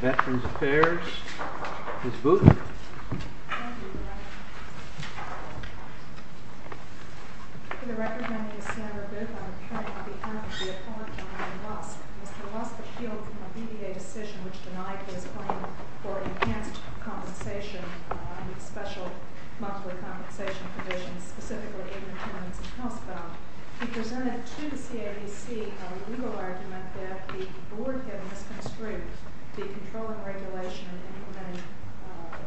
Veterans Affairs. Ms. Booth? Thank you, Your Honor. For the record, my name is Sandra Booth. I am appearing on behalf of the appellant, John L. Lusk. Mr. Lusk appealed for a DVA decision which denied his claim for an enhanced compensation, a special monthly compensation provision specifically in the terms of House Bill. He presented to the CABC a legal argument that the Board had misconstrued the controlling regulation and implemented,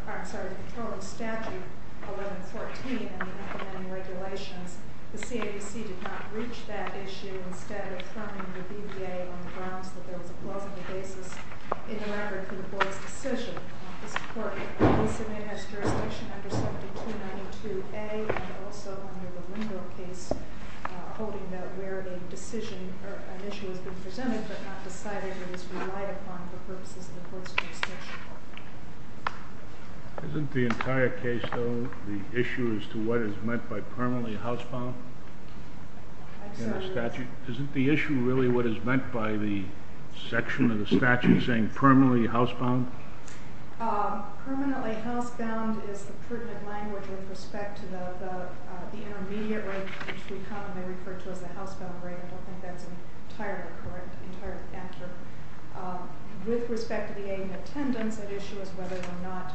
I'm sorry, the controlling statute 1114 in the implementing regulations. The CABC did not reach that issue instead of fronting the DVA on the grounds that there was a plausible basis in the record for the Board's decision. The Court in this event has jurisdiction under Section 292A and also under the Lindau case holding that where the decision or an issue has been presented but not decided and is relied upon for purposes of the Court's jurisdiction. Isn't the entire case though the issue as to what is meant by permanently housebound? I'm sorry? Isn't the issue really what is meant by the section of the statute saying permanently housebound? Permanently housebound is the pertinent language with respect to the intermediate rate which we commonly refer to as the housebound rate. I don't think that's entirely correct, entirely accurate. With respect to the aid and attendance, the issue is whether or not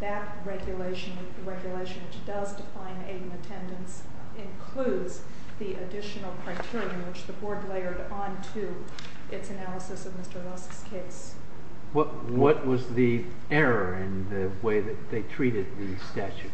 that regulation, the regulation which does define aid and attendance, includes the additional criteria which the Board layered onto its analysis of Mr. Lusk's case. What was the error in the way that they treated the statute?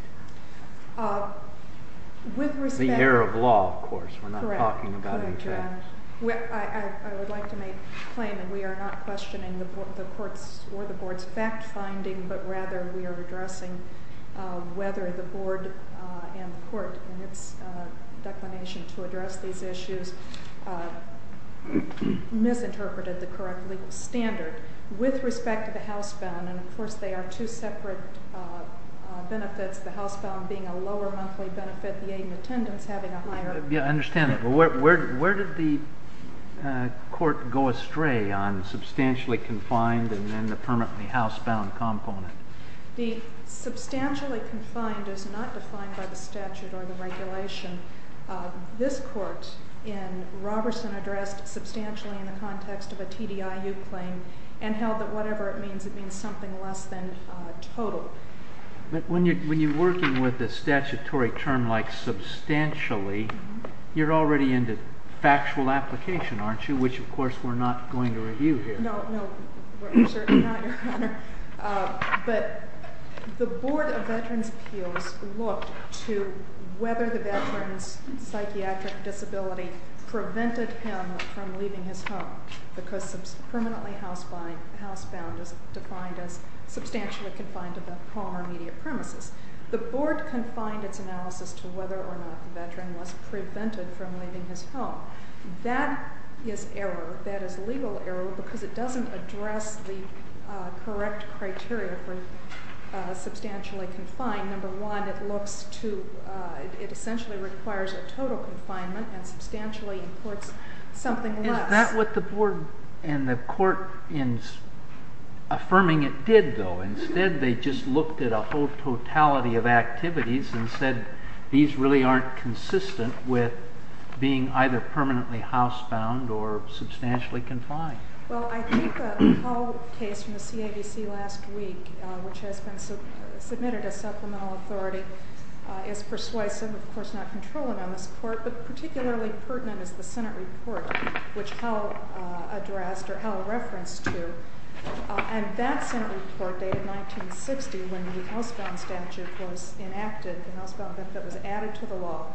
With respect... The error of law, of course. We're not talking about any facts. Correct. I would like to make the claim that we are not questioning the Court's or the Board's fact-finding but rather we are addressing whether the Board and the Court in its declination to address these issues misinterpreted the current legal standard. With respect to the housebound, and of course they are two separate benefits, the housebound being a lower monthly benefit, the aid and attendance having a higher... Yeah, I understand that. But where did the Court go astray on substantially confined and then the permanently housebound component? The substantially confined is not defined by the statute or the regulation. This Court in Roberson addressed substantially in the context of a TDIU claim and held that whatever it means, it means something less than total. But when you're working with a statutory term like substantially, you're already into factual application, aren't you? Which, of course, we're not going to review here. But the Board of Veterans' Appeals looked to whether the veteran's psychiatric disability prevented him from leaving his home because permanently housebound is defined as substantially confined to the home or immediate premises. The Board confined its analysis to whether or not the veteran was prevented from leaving his home. That is error. That is legal error because it doesn't address the correct criteria for substantially confined. Number one, it looks to... it essentially requires a total confinement and substantially imports something less. Is that what the Board and the Court in affirming it did, though? Instead, they just looked at a whole totality of activities and said, these really aren't consistent with being either permanently housebound or substantially confined. Well, I think the Hull case from the CAVC last week, which has been submitted as supplemental authority, is persuasive, of course not controlling on this Court, but particularly pertinent is the Senate report which Hull addressed or Hull referenced to. And that Senate report dated 1960 when the housebound statute was enacted, the housebound that was added to the law,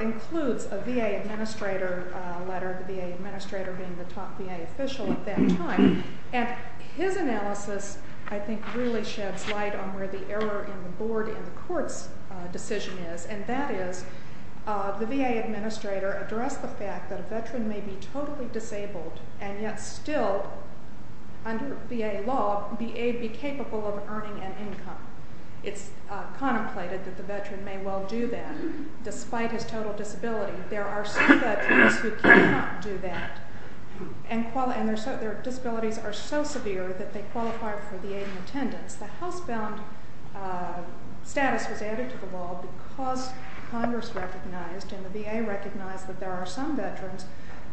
includes a VA administrator letter, the VA administrator being the top VA official at that time. And his analysis, I think, really sheds light on where the error in the Board and the Court's decision is, and that is the VA administrator addressed the fact that a veteran may be totally disabled and yet still, under VA law, be capable of earning an income. It's contemplated that the veteran may well do that, despite his total disability. There are some veterans who cannot do that, and their disabilities are so severe that they qualify for VA attendance. The housebound status was added to the law because Congress recognized and the VA recognized that there are some veterans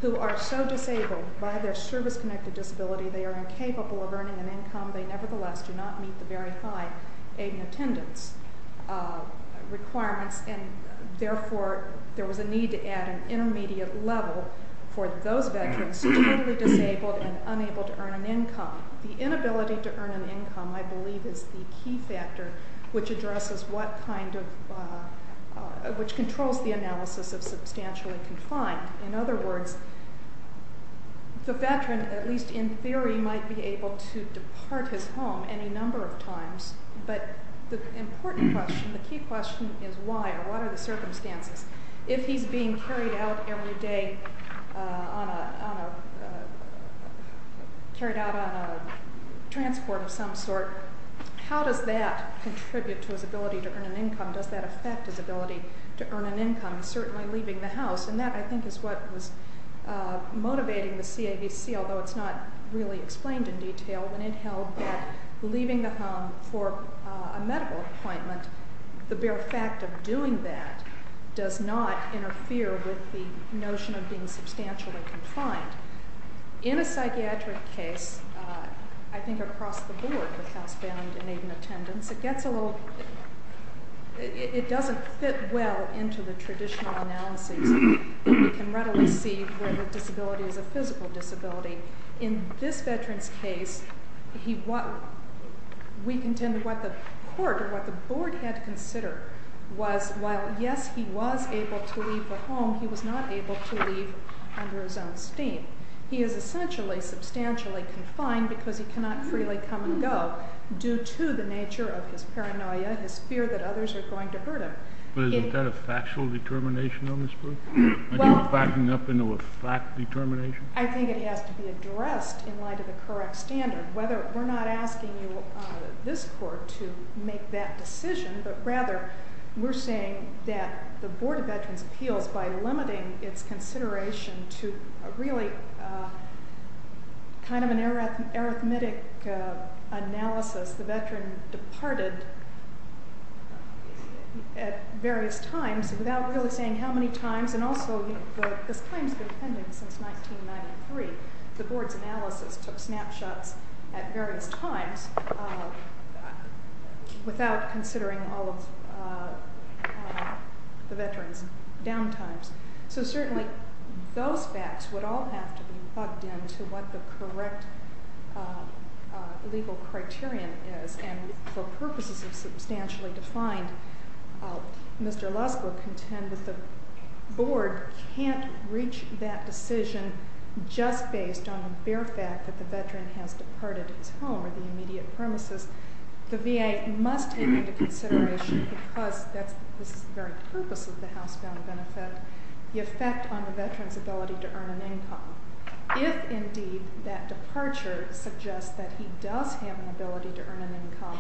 who are so disabled by their service-connected disability they are incapable of earning an income. They nevertheless do not meet the very high aid and attendance requirements, and therefore there was a need to add an intermediate level for those veterans who are totally disabled and unable to earn an income. The inability to earn an income, I believe, is the key factor which addresses what kind of which controls the analysis of substantially confined. In other words, the veteran, at least in theory, might be able to depart his home any number of times, but the important question, the key question is why, or what are the circumstances? If he's being carried out every day on a transport of some sort, how does that contribute to his ability to earn an income? Does that affect his ability to earn an income, certainly leaving the house? And that, I think, is what was motivating the CAVC, although it's not really explained in detail, when it held that leaving the home for a medical appointment, the bare fact of doing that does not interfere with the notion of being substantially confined. In a psychiatric case, I think across the board with housebound and aid and attendance, it gets a little, it doesn't fit well into the traditional analysis that we can readily see where the disability is a physical disability. In this veteran's case, we contend what the court or what the board had to consider was while, yes, he was able to leave the home, he was not able to leave under his own steam. He is essentially substantially confined because he cannot freely come and go due to the nature of his paranoia, his fear that others are going to hurt him. But isn't that a factual determination on this group? Are you backing up into a fact determination? I think it has to be addressed in light of the correct standard. We're not asking you, this court, to make that decision, but rather we're saying that the Board of Veterans' Appeals, by limiting its consideration to really kind of an arithmetic analysis, the veteran departed at various times without really saying how many times, and also this claim has been pending since 1993. The board's analysis took snapshots at various times without considering all of the veteran's downtimes. So certainly those facts would all have to be bugged in to what the correct legal criterion is. And for purposes of substantially defined, Mr. Lusk will contend that the board can't reach that decision just based on the bare fact that the veteran has departed his home or the immediate premises. The VA must take into consideration, because this is the very purpose of the housebound benefit, the effect on the veteran's ability to earn an income. If indeed that departure suggests that he does have an ability to earn an income,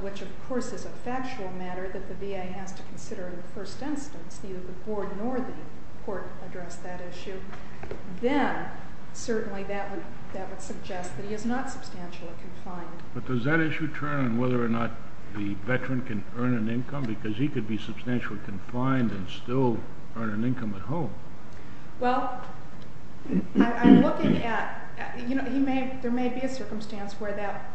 which of course is a factual matter that the VA has to consider in the first instance, neither the board nor the court address that issue, then certainly that would suggest that he is not substantially confined. But does that issue turn on whether or not the veteran can earn an income? Because he could be substantially confined and still earn an income at home. Well, I'm looking at, you know, there may be a circumstance where that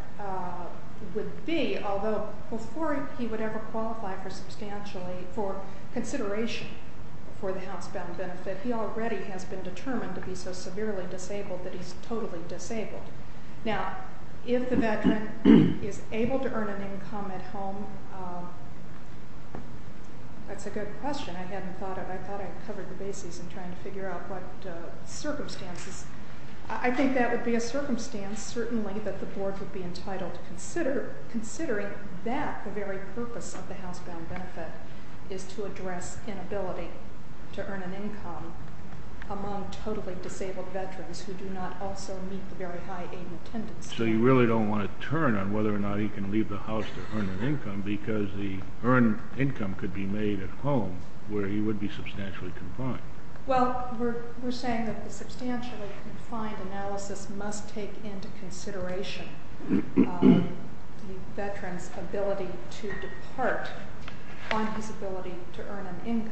would be, although before he would ever qualify for substantially, for consideration for the housebound benefit, he already has been determined to be so severely disabled that he's totally disabled. Now, if the veteran is able to earn an income at home, that's a good question. I hadn't thought of it. I thought I had covered the bases in trying to figure out what circumstances. I think that would be a circumstance, certainly, that the board would be entitled to consider, considering that the very purpose of the housebound benefit is to address inability to earn an income among totally disabled veterans who do not also meet the very high aid and attendance. So you really don't want to turn on whether or not he can leave the house to earn an income because the earned income could be made at home where he would be substantially confined. Well, we're saying that the substantially confined analysis must take into consideration the veteran's ability to depart on his ability to earn an income.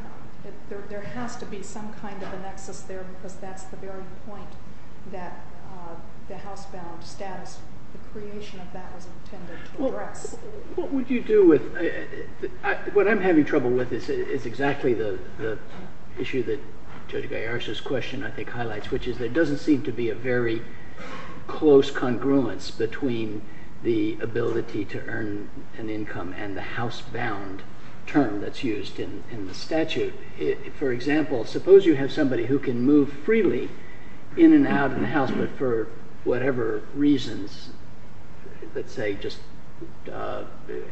There has to be some kind of a nexus there because that's the very point that the housebound status, the creation of that was intended to address. What would you do with – what I'm having trouble with is exactly the issue that Judge Galliardo's question, I think, highlights, which is there doesn't seem to be a very close congruence between the ability to earn an income and the housebound term that's used in the statute. For example, suppose you have somebody who can move freely in and out of the house, but for whatever reasons, let's say just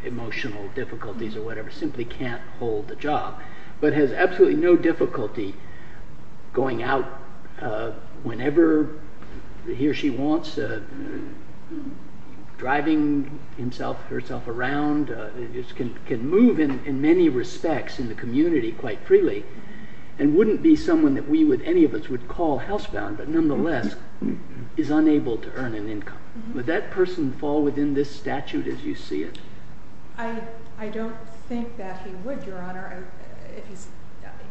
emotional difficulties or whatever, simply can't hold a job, but has absolutely no difficulty going out whenever he or she wants, driving himself or herself around, can move in many respects in the community quite freely, and wouldn't be someone that any of us would call housebound, but nonetheless is unable to earn an income. Would that person fall within this statute as you see it? I don't think that he would, Your Honor.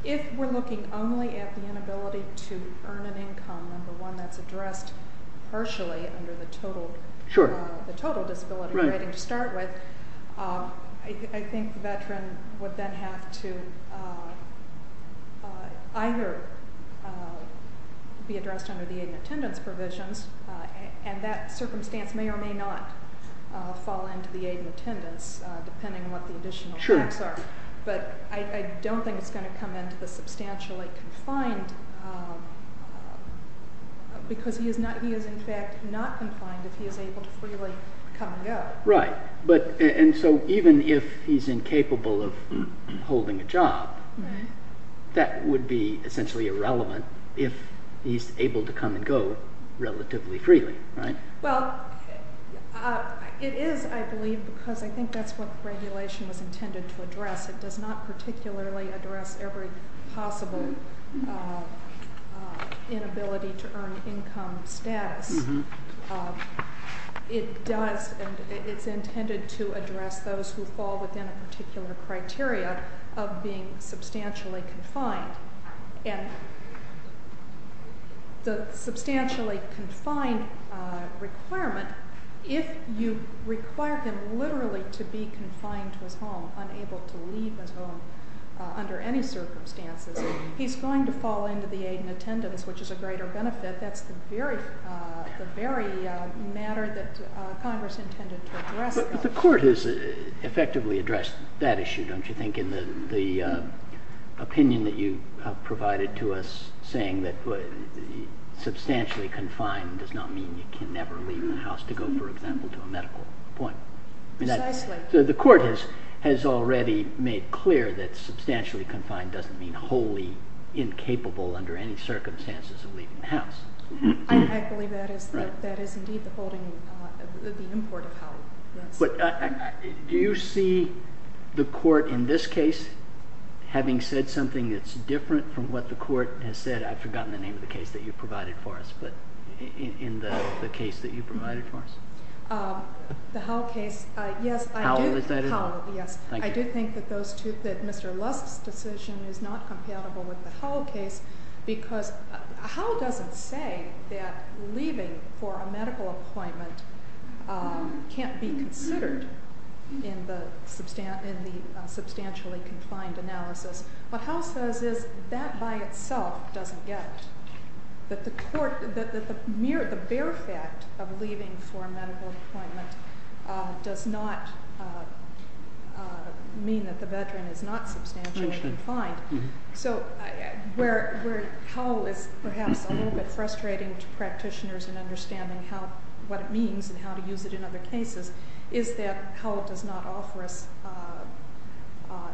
If we're looking only at the inability to earn an income and the one that's addressed partially under the total disability rating to start with, I think the veteran would then have to either be addressed under the aid and attendance provisions, and that circumstance may or may not fall into the aid and attendance, depending on what the additional facts are. But I don't think it's going to come into the substantially confined, because he is in fact not confined if he is able to freely come and go. Right. And so even if he's incapable of holding a job, that would be essentially irrelevant if he's able to come and go relatively freely. Well, it is, I believe, because I think that's what the regulation was intended to address. It does not particularly address every possible inability to earn income status. It does, and it's intended to address those who fall within a particular criteria of being substantially confined. And the substantially confined requirement, if you require him literally to be confined to his home, unable to leave his home under any circumstances, he's going to fall into the aid and attendance, which is a greater benefit. That's the very matter that Congress intended to address. But the Court has effectively addressed that issue, don't you think, in the opinion that you provided to us, saying that substantially confined does not mean you can never leave the house to go, for example, to a medical appointment. Precisely. The Court has already made clear that substantially confined doesn't mean wholly incapable under any circumstances of leaving the house. I believe that is indeed the holding, the import of how, yes. Do you see the Court in this case, having said something that's different from what the Court has said, I've forgotten the name of the case that you provided for us, but in the case that you provided for us. The Howell case, yes, I do think that Mr. Lusk's decision is not compatible with the Howell case, because Howell doesn't say that leaving for a medical appointment can't be considered in the substantially confined analysis. What Howell says is that by itself doesn't get it. That the mere fact of leaving for a medical appointment does not mean that the veteran is not substantially confined. So where Howell is perhaps a little bit frustrating to practitioners in understanding what it means and how to use it in other cases is that Howell does not offer us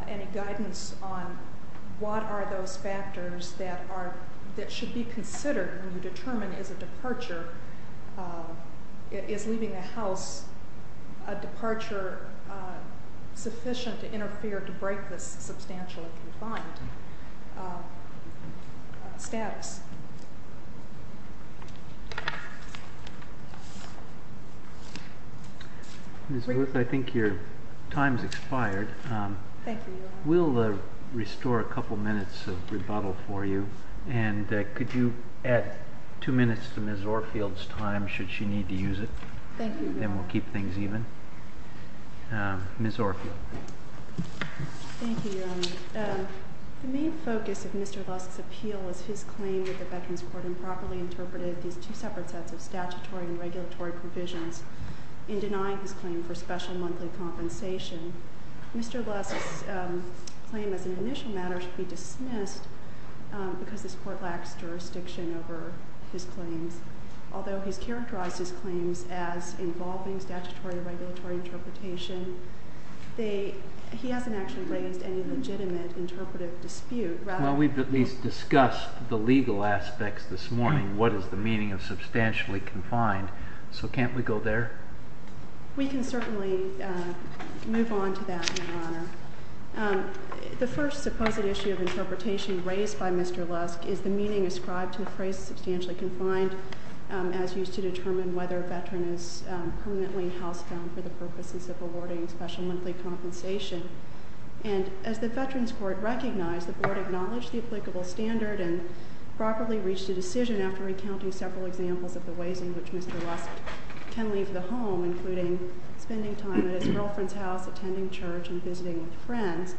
any guidance on what are those factors that should be considered when you determine is a departure, is leaving the house a departure sufficient to interfere, to break this substantially confined status. Ms. Wood, I think your time has expired. Thank you. We'll restore a couple minutes of rebuttal for you, and could you add two minutes to Ms. Orfield's time should she need to use it? Thank you, Your Honor. Then we'll keep things even. Ms. Orfield. Thank you, Your Honor. The main focus of Mr. Lusk's appeal was his claim that the Veterans Court improperly interpreted these two separate sets of statutory and regulatory provisions in denying his claim for special monthly compensation. Mr. Lusk's claim as an initial matter should be dismissed because this court lacks jurisdiction over his claims. Although he's characterized his claims as involving statutory and regulatory interpretation, he hasn't actually raised any legitimate interpretive dispute. Well, we've at least discussed the legal aspects this morning, what is the meaning of substantially confined. So can't we go there? We can certainly move on to that, Your Honor. The first supposed issue of interpretation raised by Mr. Lusk is the meaning ascribed to the phrase substantially confined as used to determine whether a veteran is permanently housebound for the purposes of awarding special monthly compensation. And as the Veterans Court recognized, the Board acknowledged the applicable standard and properly reached a decision after recounting several examples of the ways in which Mr. Lusk can leave the home, including spending time at his girlfriend's house, attending church, and visiting with friends.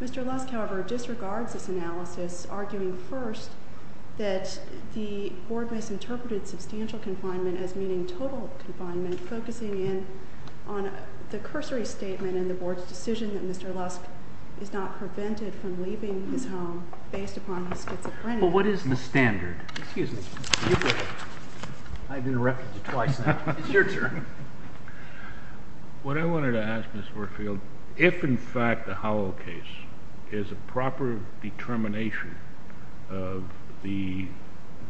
Mr. Lusk, however, disregards this analysis, arguing first that the Board misinterpreted substantial confinement as meaning total confinement, focusing in on the cursory statement in the Board's decision that Mr. Lusk is not prevented from leaving his home based upon his schizophrenia. Well, what is the standard? Excuse me. I've interrupted you twice now. It's your turn. What I wanted to ask, Ms. Warfield, if in fact the Howell case is a proper determination of the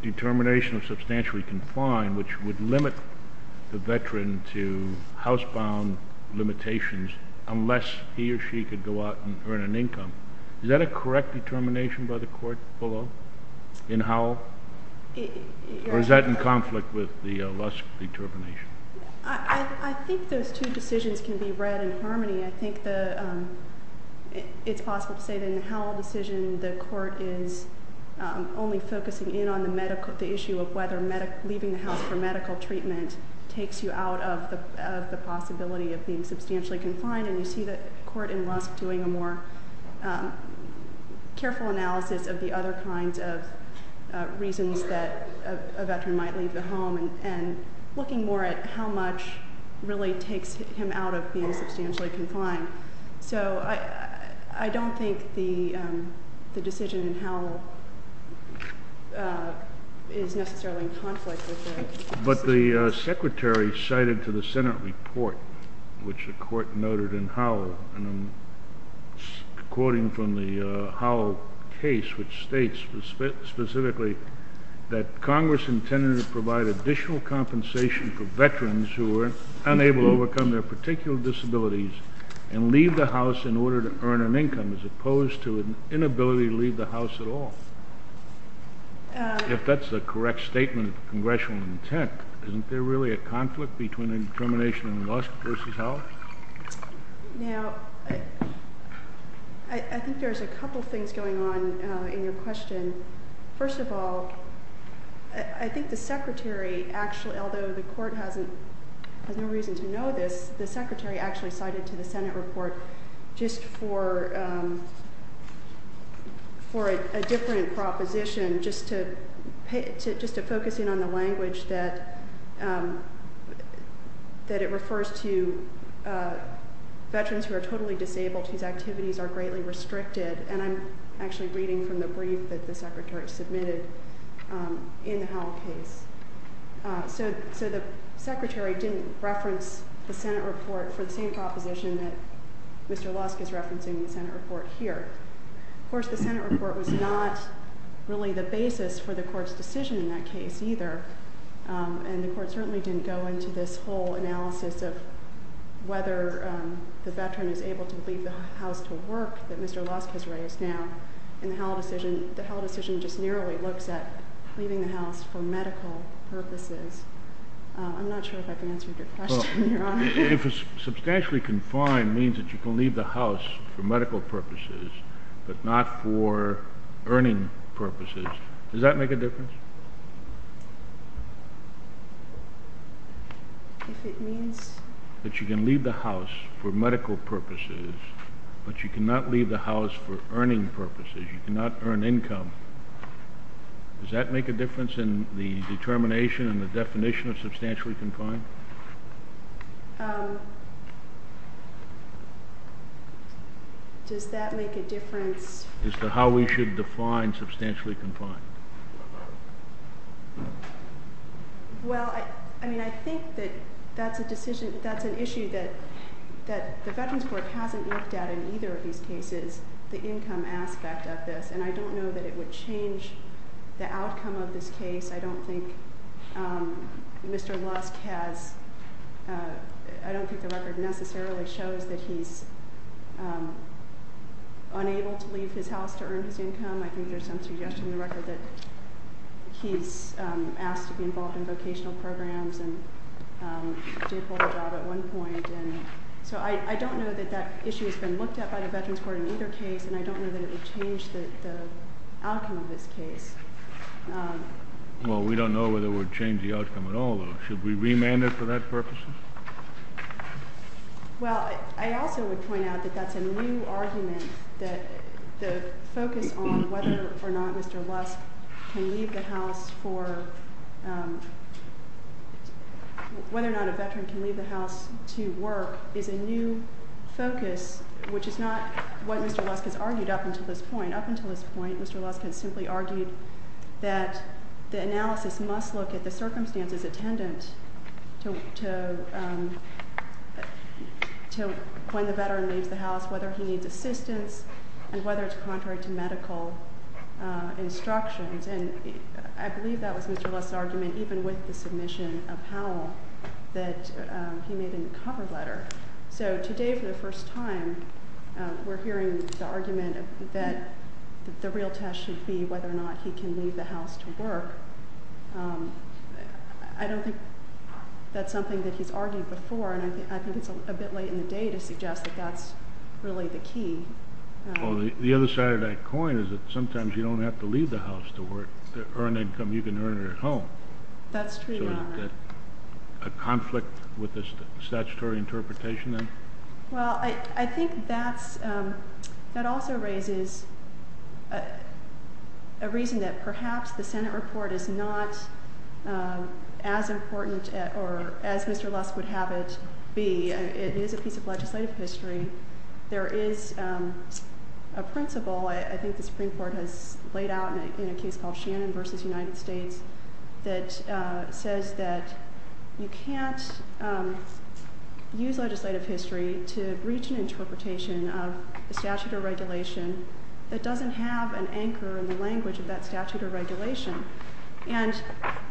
determination of substantially confined, which would limit the veteran to housebound limitations unless he or she could go out and earn an income, is that a correct determination by the court below in Howell? Or is that in conflict with the Lusk determination? I think those two decisions can be read in harmony. I think it's possible to say that in the Howell decision the court is only focusing in on the issue of whether leaving the house for medical treatment takes you out of the possibility of being substantially confined, and you see the court in Lusk doing a more careful analysis of the other kinds of reasons that a veteran might leave the home and looking more at how much really takes him out of being substantially confined. So I don't think the decision in Howell is necessarily in conflict with that. But the Secretary cited to the Senate report, which the court noted in Howell, and I'm quoting from the Howell case, which states specifically that Congress intended to provide additional compensation for veterans who were unable to overcome their particular disabilities and leave the house in order to earn an income, as opposed to an inability to leave the house at all. If that's a correct statement of congressional intent, isn't there really a conflict between a determination in Lusk versus Howell? Now, I think there's a couple things going on in your question. First of all, I think the Secretary actually, although the court has no reason to know this, the Secretary actually cited to the Senate report just for a different proposition, just to focus in on the language that it refers to veterans who are totally disabled whose activities are greatly restricted. And I'm actually reading from the brief that the Secretary submitted in the Howell case. So the Secretary didn't reference the Senate report for the same proposition that Mr. Lusk is referencing in the Senate report here. Of course, the Senate report was not really the basis for the court's decision in that case either, and the court certainly didn't go into this whole analysis of whether the veteran is able to leave the house to work that Mr. Lusk has raised now. In the Howell decision, the Howell decision just nearly looks at leaving the house for medical purposes. I'm not sure if I can answer your question, Your Honor. If substantially confined means that you can leave the house for medical purposes but not for earning purposes, does that make a difference? If it means that you can leave the house for medical purposes but you cannot leave the house for earning purposes, you cannot earn income, does that make a difference in the determination and the definition of substantially confined? Does that make a difference? As to how we should define substantially confined? Well, I mean, I think that that's an issue that the Veterans Court hasn't looked at in either of these cases, the income aspect of this. And I don't know that it would change the outcome of this case. I don't think Mr. Lusk has – I don't think the record necessarily shows that he's unable to leave his house to earn his income. I think there's some suggestion in the record that he's asked to be involved in vocational programs and did hold a job at one point. So I don't know that that issue has been looked at by the Veterans Court in either case, and I don't know that it would change the outcome of this case. Well, we don't know whether it would change the outcome at all, though. Should we remand it for that purpose? Well, I also would point out that that's a new argument that the focus on whether or not Mr. Lusk can leave the house for – whether or not a veteran can leave the house to work is a new focus, which is not what Mr. Lusk has argued up until this point. Mr. Lusk has simply argued that the analysis must look at the circumstances attendant to when the veteran leaves the house, whether he needs assistance and whether it's contrary to medical instructions. And I believe that was Mr. Lusk's argument even with the submission of Powell that he made in the cover letter. So today for the first time, we're hearing the argument that the real test should be whether or not he can leave the house to work. I don't think that's something that he's argued before, and I think it's a bit late in the day to suggest that that's really the key. Well, the other side of that coin is that sometimes you don't have to leave the house to work to earn income. You can earn it at home. That's true. A conflict with the statutory interpretation then? Well, I think that also raises a reason that perhaps the Senate report is not as important or as Mr. Lusk would have it be. It is a piece of legislative history. There is a principle I think the Supreme Court has laid out in a case called Shannon v. United States that says that you can't use legislative history to reach an interpretation of a statute or regulation that doesn't have an anchor in the language of that statute or regulation. And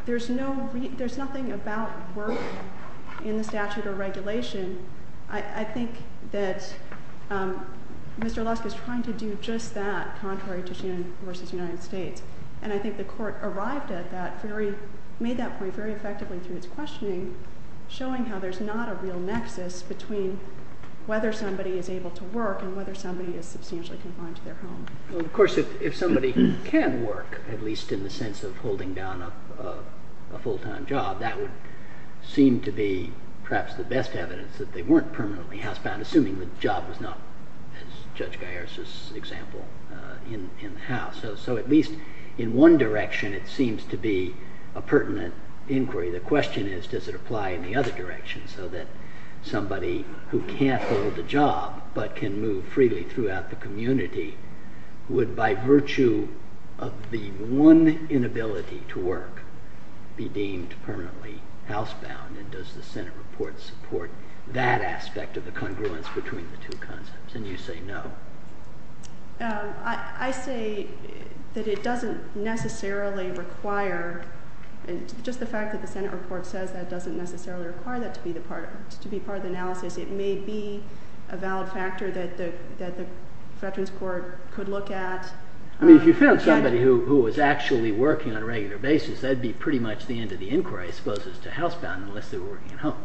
there's nothing about work in the statute or regulation. I think that Mr. Lusk is trying to do just that, contrary to Shannon v. United States. And I think the Court arrived at that, made that point very effectively through its questioning, showing how there's not a real nexus between whether somebody is able to work and whether somebody is substantially confined to their home. Well, of course, if somebody can work, at least in the sense of holding down a full-time job, that would seem to be perhaps the best evidence that they weren't permanently housebound, assuming the job was not, as Judge Gaiares' example, in the house. So at least in one direction, it seems to be a pertinent inquiry. The question is, does it apply in the other direction so that somebody who can't hold a job but can move freely throughout the community would, by virtue of the one inability to work, be deemed permanently housebound? And does the Senate report support that aspect of the congruence between the two concepts? And you say no. I say that it doesn't necessarily require, just the fact that the Senate report says that doesn't necessarily require that to be part of the analysis. It may be a valid factor that the Veterans Court could look at. I mean, if you found somebody who was actually working on a regular basis, that would be pretty much the end of the inquiry, as opposed to housebound, unless they were working at home.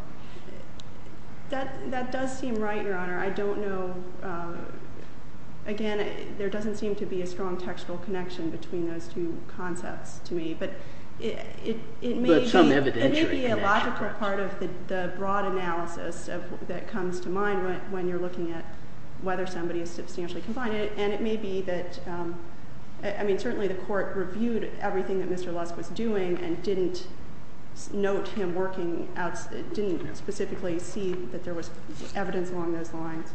That does seem right, Your Honor. I don't know. Again, there doesn't seem to be a strong textual connection between those two concepts to me. But it may be a logical part of the broad analysis that comes to mind when you're looking at whether somebody is substantially confined. And it may be that, I mean, certainly the court reviewed everything that Mr. Lusk was doing and didn't note him working out, didn't specifically see that there was evidence along those lines.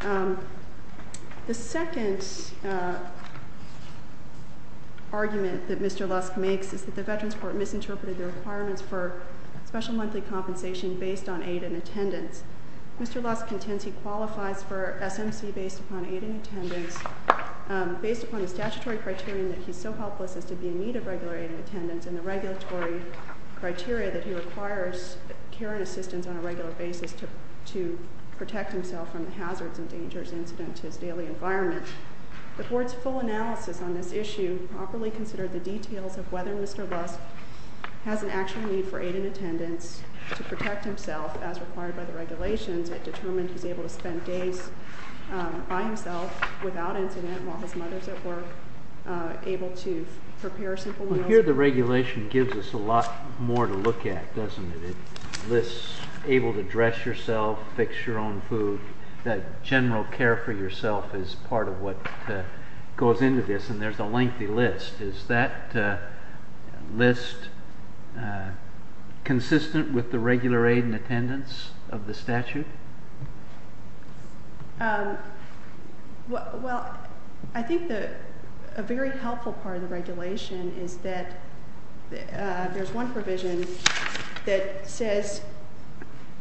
The second argument that Mr. Lusk makes is that the Veterans Court misinterpreted the requirements for special monthly compensation based on aid and attendance. Mr. Lusk contends he qualifies for SMC based upon aid and attendance, based upon the statutory criteria that he's so helpless as to be in need of regular aid and attendance, and the regulatory criteria that he requires care and assistance on a regular basis to protect himself from the hazards and dangers incident to his daily environment. The court's full analysis on this issue properly considered the details of whether Mr. Lusk has an actual need for aid and attendance to protect himself as required by the regulations. It determined he's able to spend days by himself without incident while his mother's at work, able to prepare simple meals. Well, here the regulation gives us a lot more to look at, doesn't it? It lists able to dress yourself, fix your own food, that general care for yourself is part of what goes into this, and there's a lengthy list. Is that list consistent with the regular aid and attendance of the statute? Well, I think a very helpful part of the regulation is that there's one provision that says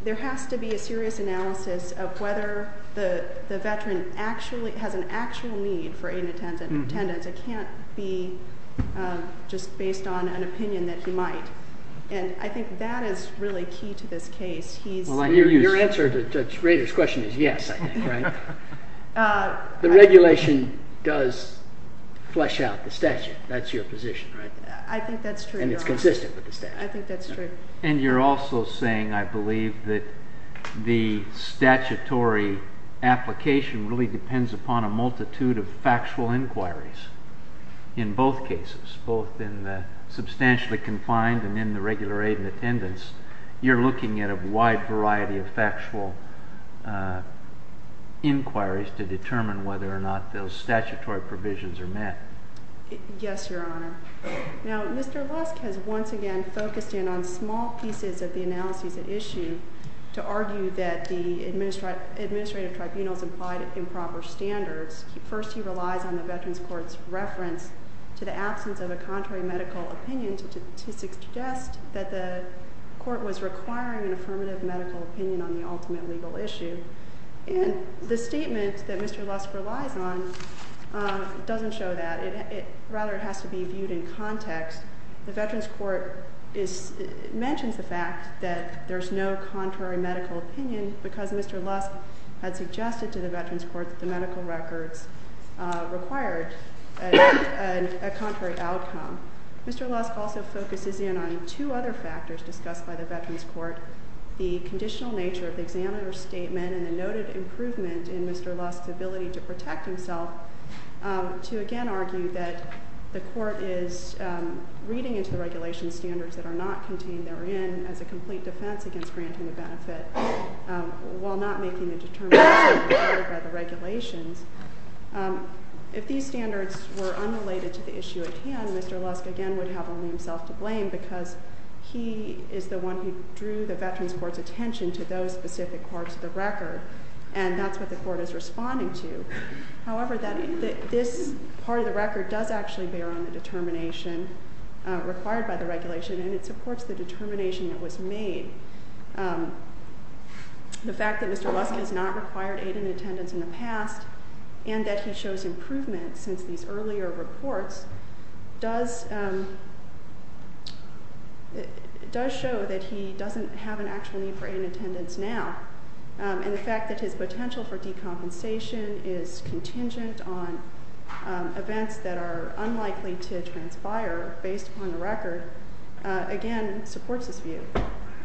there has to be a serious analysis of whether the veteran actually has an actual need for aid and attendance. It can't be just based on an opinion that he might, and I think that is really key to this case. Your answer to Judge Rader's question is yes, I think, right? The regulation does flesh out the statute. That's your position, right? I think that's true. And it's consistent with the statute. I think that's true. And you're also saying, I believe, that the statutory application really depends upon a multitude of factual inquiries in both cases, both in the substantially confined and in the regular aid and attendance. You're looking at a wide variety of factual inquiries to determine whether or not those statutory provisions are met. Yes, Your Honor. Now, Mr. Lusk has once again focused in on small pieces of the analyses at issue to argue that the administrative tribunal's implied improper standards. First, he relies on the Veterans Court's reference to the absence of a contrary medical opinion to suggest that the court was requiring an affirmative medical opinion on the ultimate legal issue. And the statement that Mr. Lusk relies on doesn't show that. Rather, it has to be viewed in context. The Veterans Court mentions the fact that there's no contrary medical opinion because Mr. Lusk had suggested to the Veterans Court that the medical records required a contrary outcome. Mr. Lusk also focuses in on two other factors discussed by the Veterans Court, the conditional nature of the examiner's statement and the noted improvement in Mr. Lusk's ability to protect himself, to again argue that the court is reading into the regulation standards that are not contained therein as a complete defense against granting a benefit while not making a determination by the regulations. If these standards were unrelated to the issue at hand, Mr. Lusk again would have only himself to blame because he is the one who drew the Veterans Court's attention to those specific parts of the record, and that's what the court is responding to. However, this part of the record does actually bear on the determination required by the regulation, and it supports the determination that was made. The fact that Mr. Lusk has not required aid and attendance in the past and that he shows improvement since these earlier reports does show that he doesn't have an actual need for aid and attendance now, and the fact that his potential for decompensation is contingent on events that are unlikely to transpire based upon the record, again, supports his view.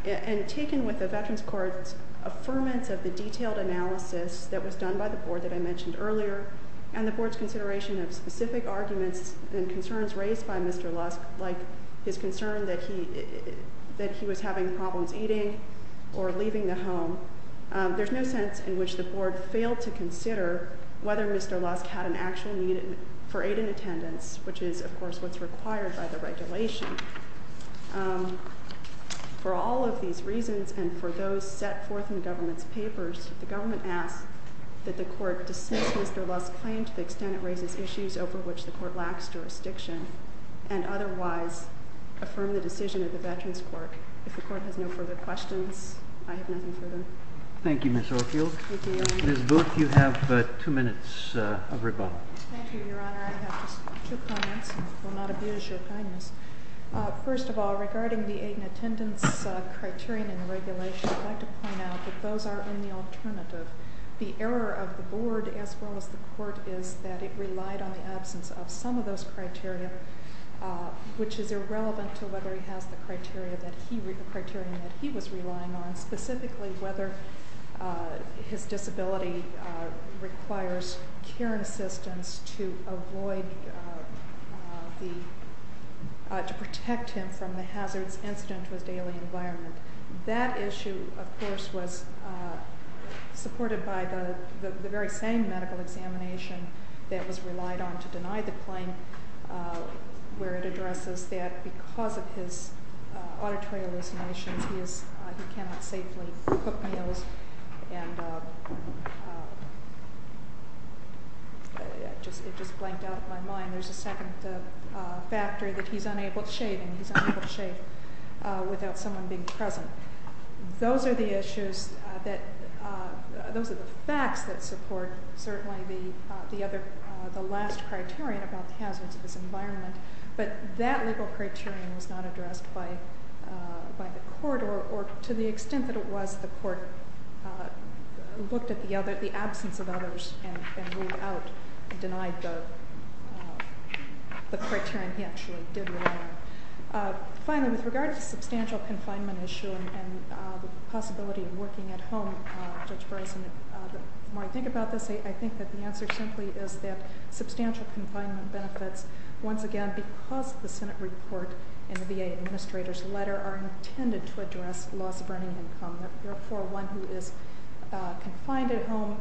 And taken with the Veterans Court's affirmance of the detailed analysis that was done by the board that I mentioned earlier, and the board's consideration of specific arguments and concerns raised by Mr. Lusk, like his concern that he was having problems eating or leaving the home, there's no sense in which the board failed to consider whether Mr. Lusk had an actual need for aid and attendance, which is, of course, what's required by the regulation. For all of these reasons and for those set forth in the government's papers, the government asks that the court dismiss Mr. Lusk's claim to the extent it raises issues over which the court lacks jurisdiction, and otherwise affirm the decision of the Veterans Court. If the court has no further questions, I have nothing further. Thank you, Ms. Oakfield. Thank you, Your Honor. Ms. Booth, you have two minutes of rebuttal. Thank you, Your Honor. I have just two comments and will not abuse your kindness. First of all, regarding the aid and attendance criterion in the regulation, I'd like to point out that those are in the alternative. The error of the board, as well as the court, is that it relied on the absence of some of those criteria, which is irrelevant to whether he has the criteria that he was relying on, specifically whether his disability requires care and assistance to protect him from the hazards incident to his daily environment. That issue, of course, was supported by the very same medical examination that was relied on to deny the claim, where it addresses that because of his auditory hallucinations, he cannot safely cook meals. It just blanked out in my mind. There's a second factor that he's unable to shave, and he's unable to shave without someone being present. Those are the issues that, those are the facts that support, certainly, the last criterion about the hazards of his environment, but that legal criterion was not addressed by the court, or to the extent that it was, the court looked at the absence of others and ruled out, denied the criterion he actually did rely on. Finally, with regard to substantial confinement issue and the possibility of working at home, Judge Bryson, the more I think about this, I think that the answer simply is that substantial confinement benefits, once again, because the Senate report and the VA administrator's letter are intended to address loss of earning income. Therefore, one who is confined at home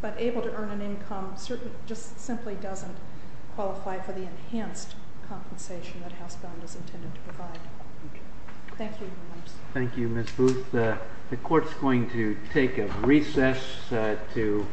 but able to earn an income just simply doesn't qualify for the enhanced compensation that House Bond is intended to provide. Thank you, Your Honors. Thank you, Ms. Booth. The court's going to take a recess to...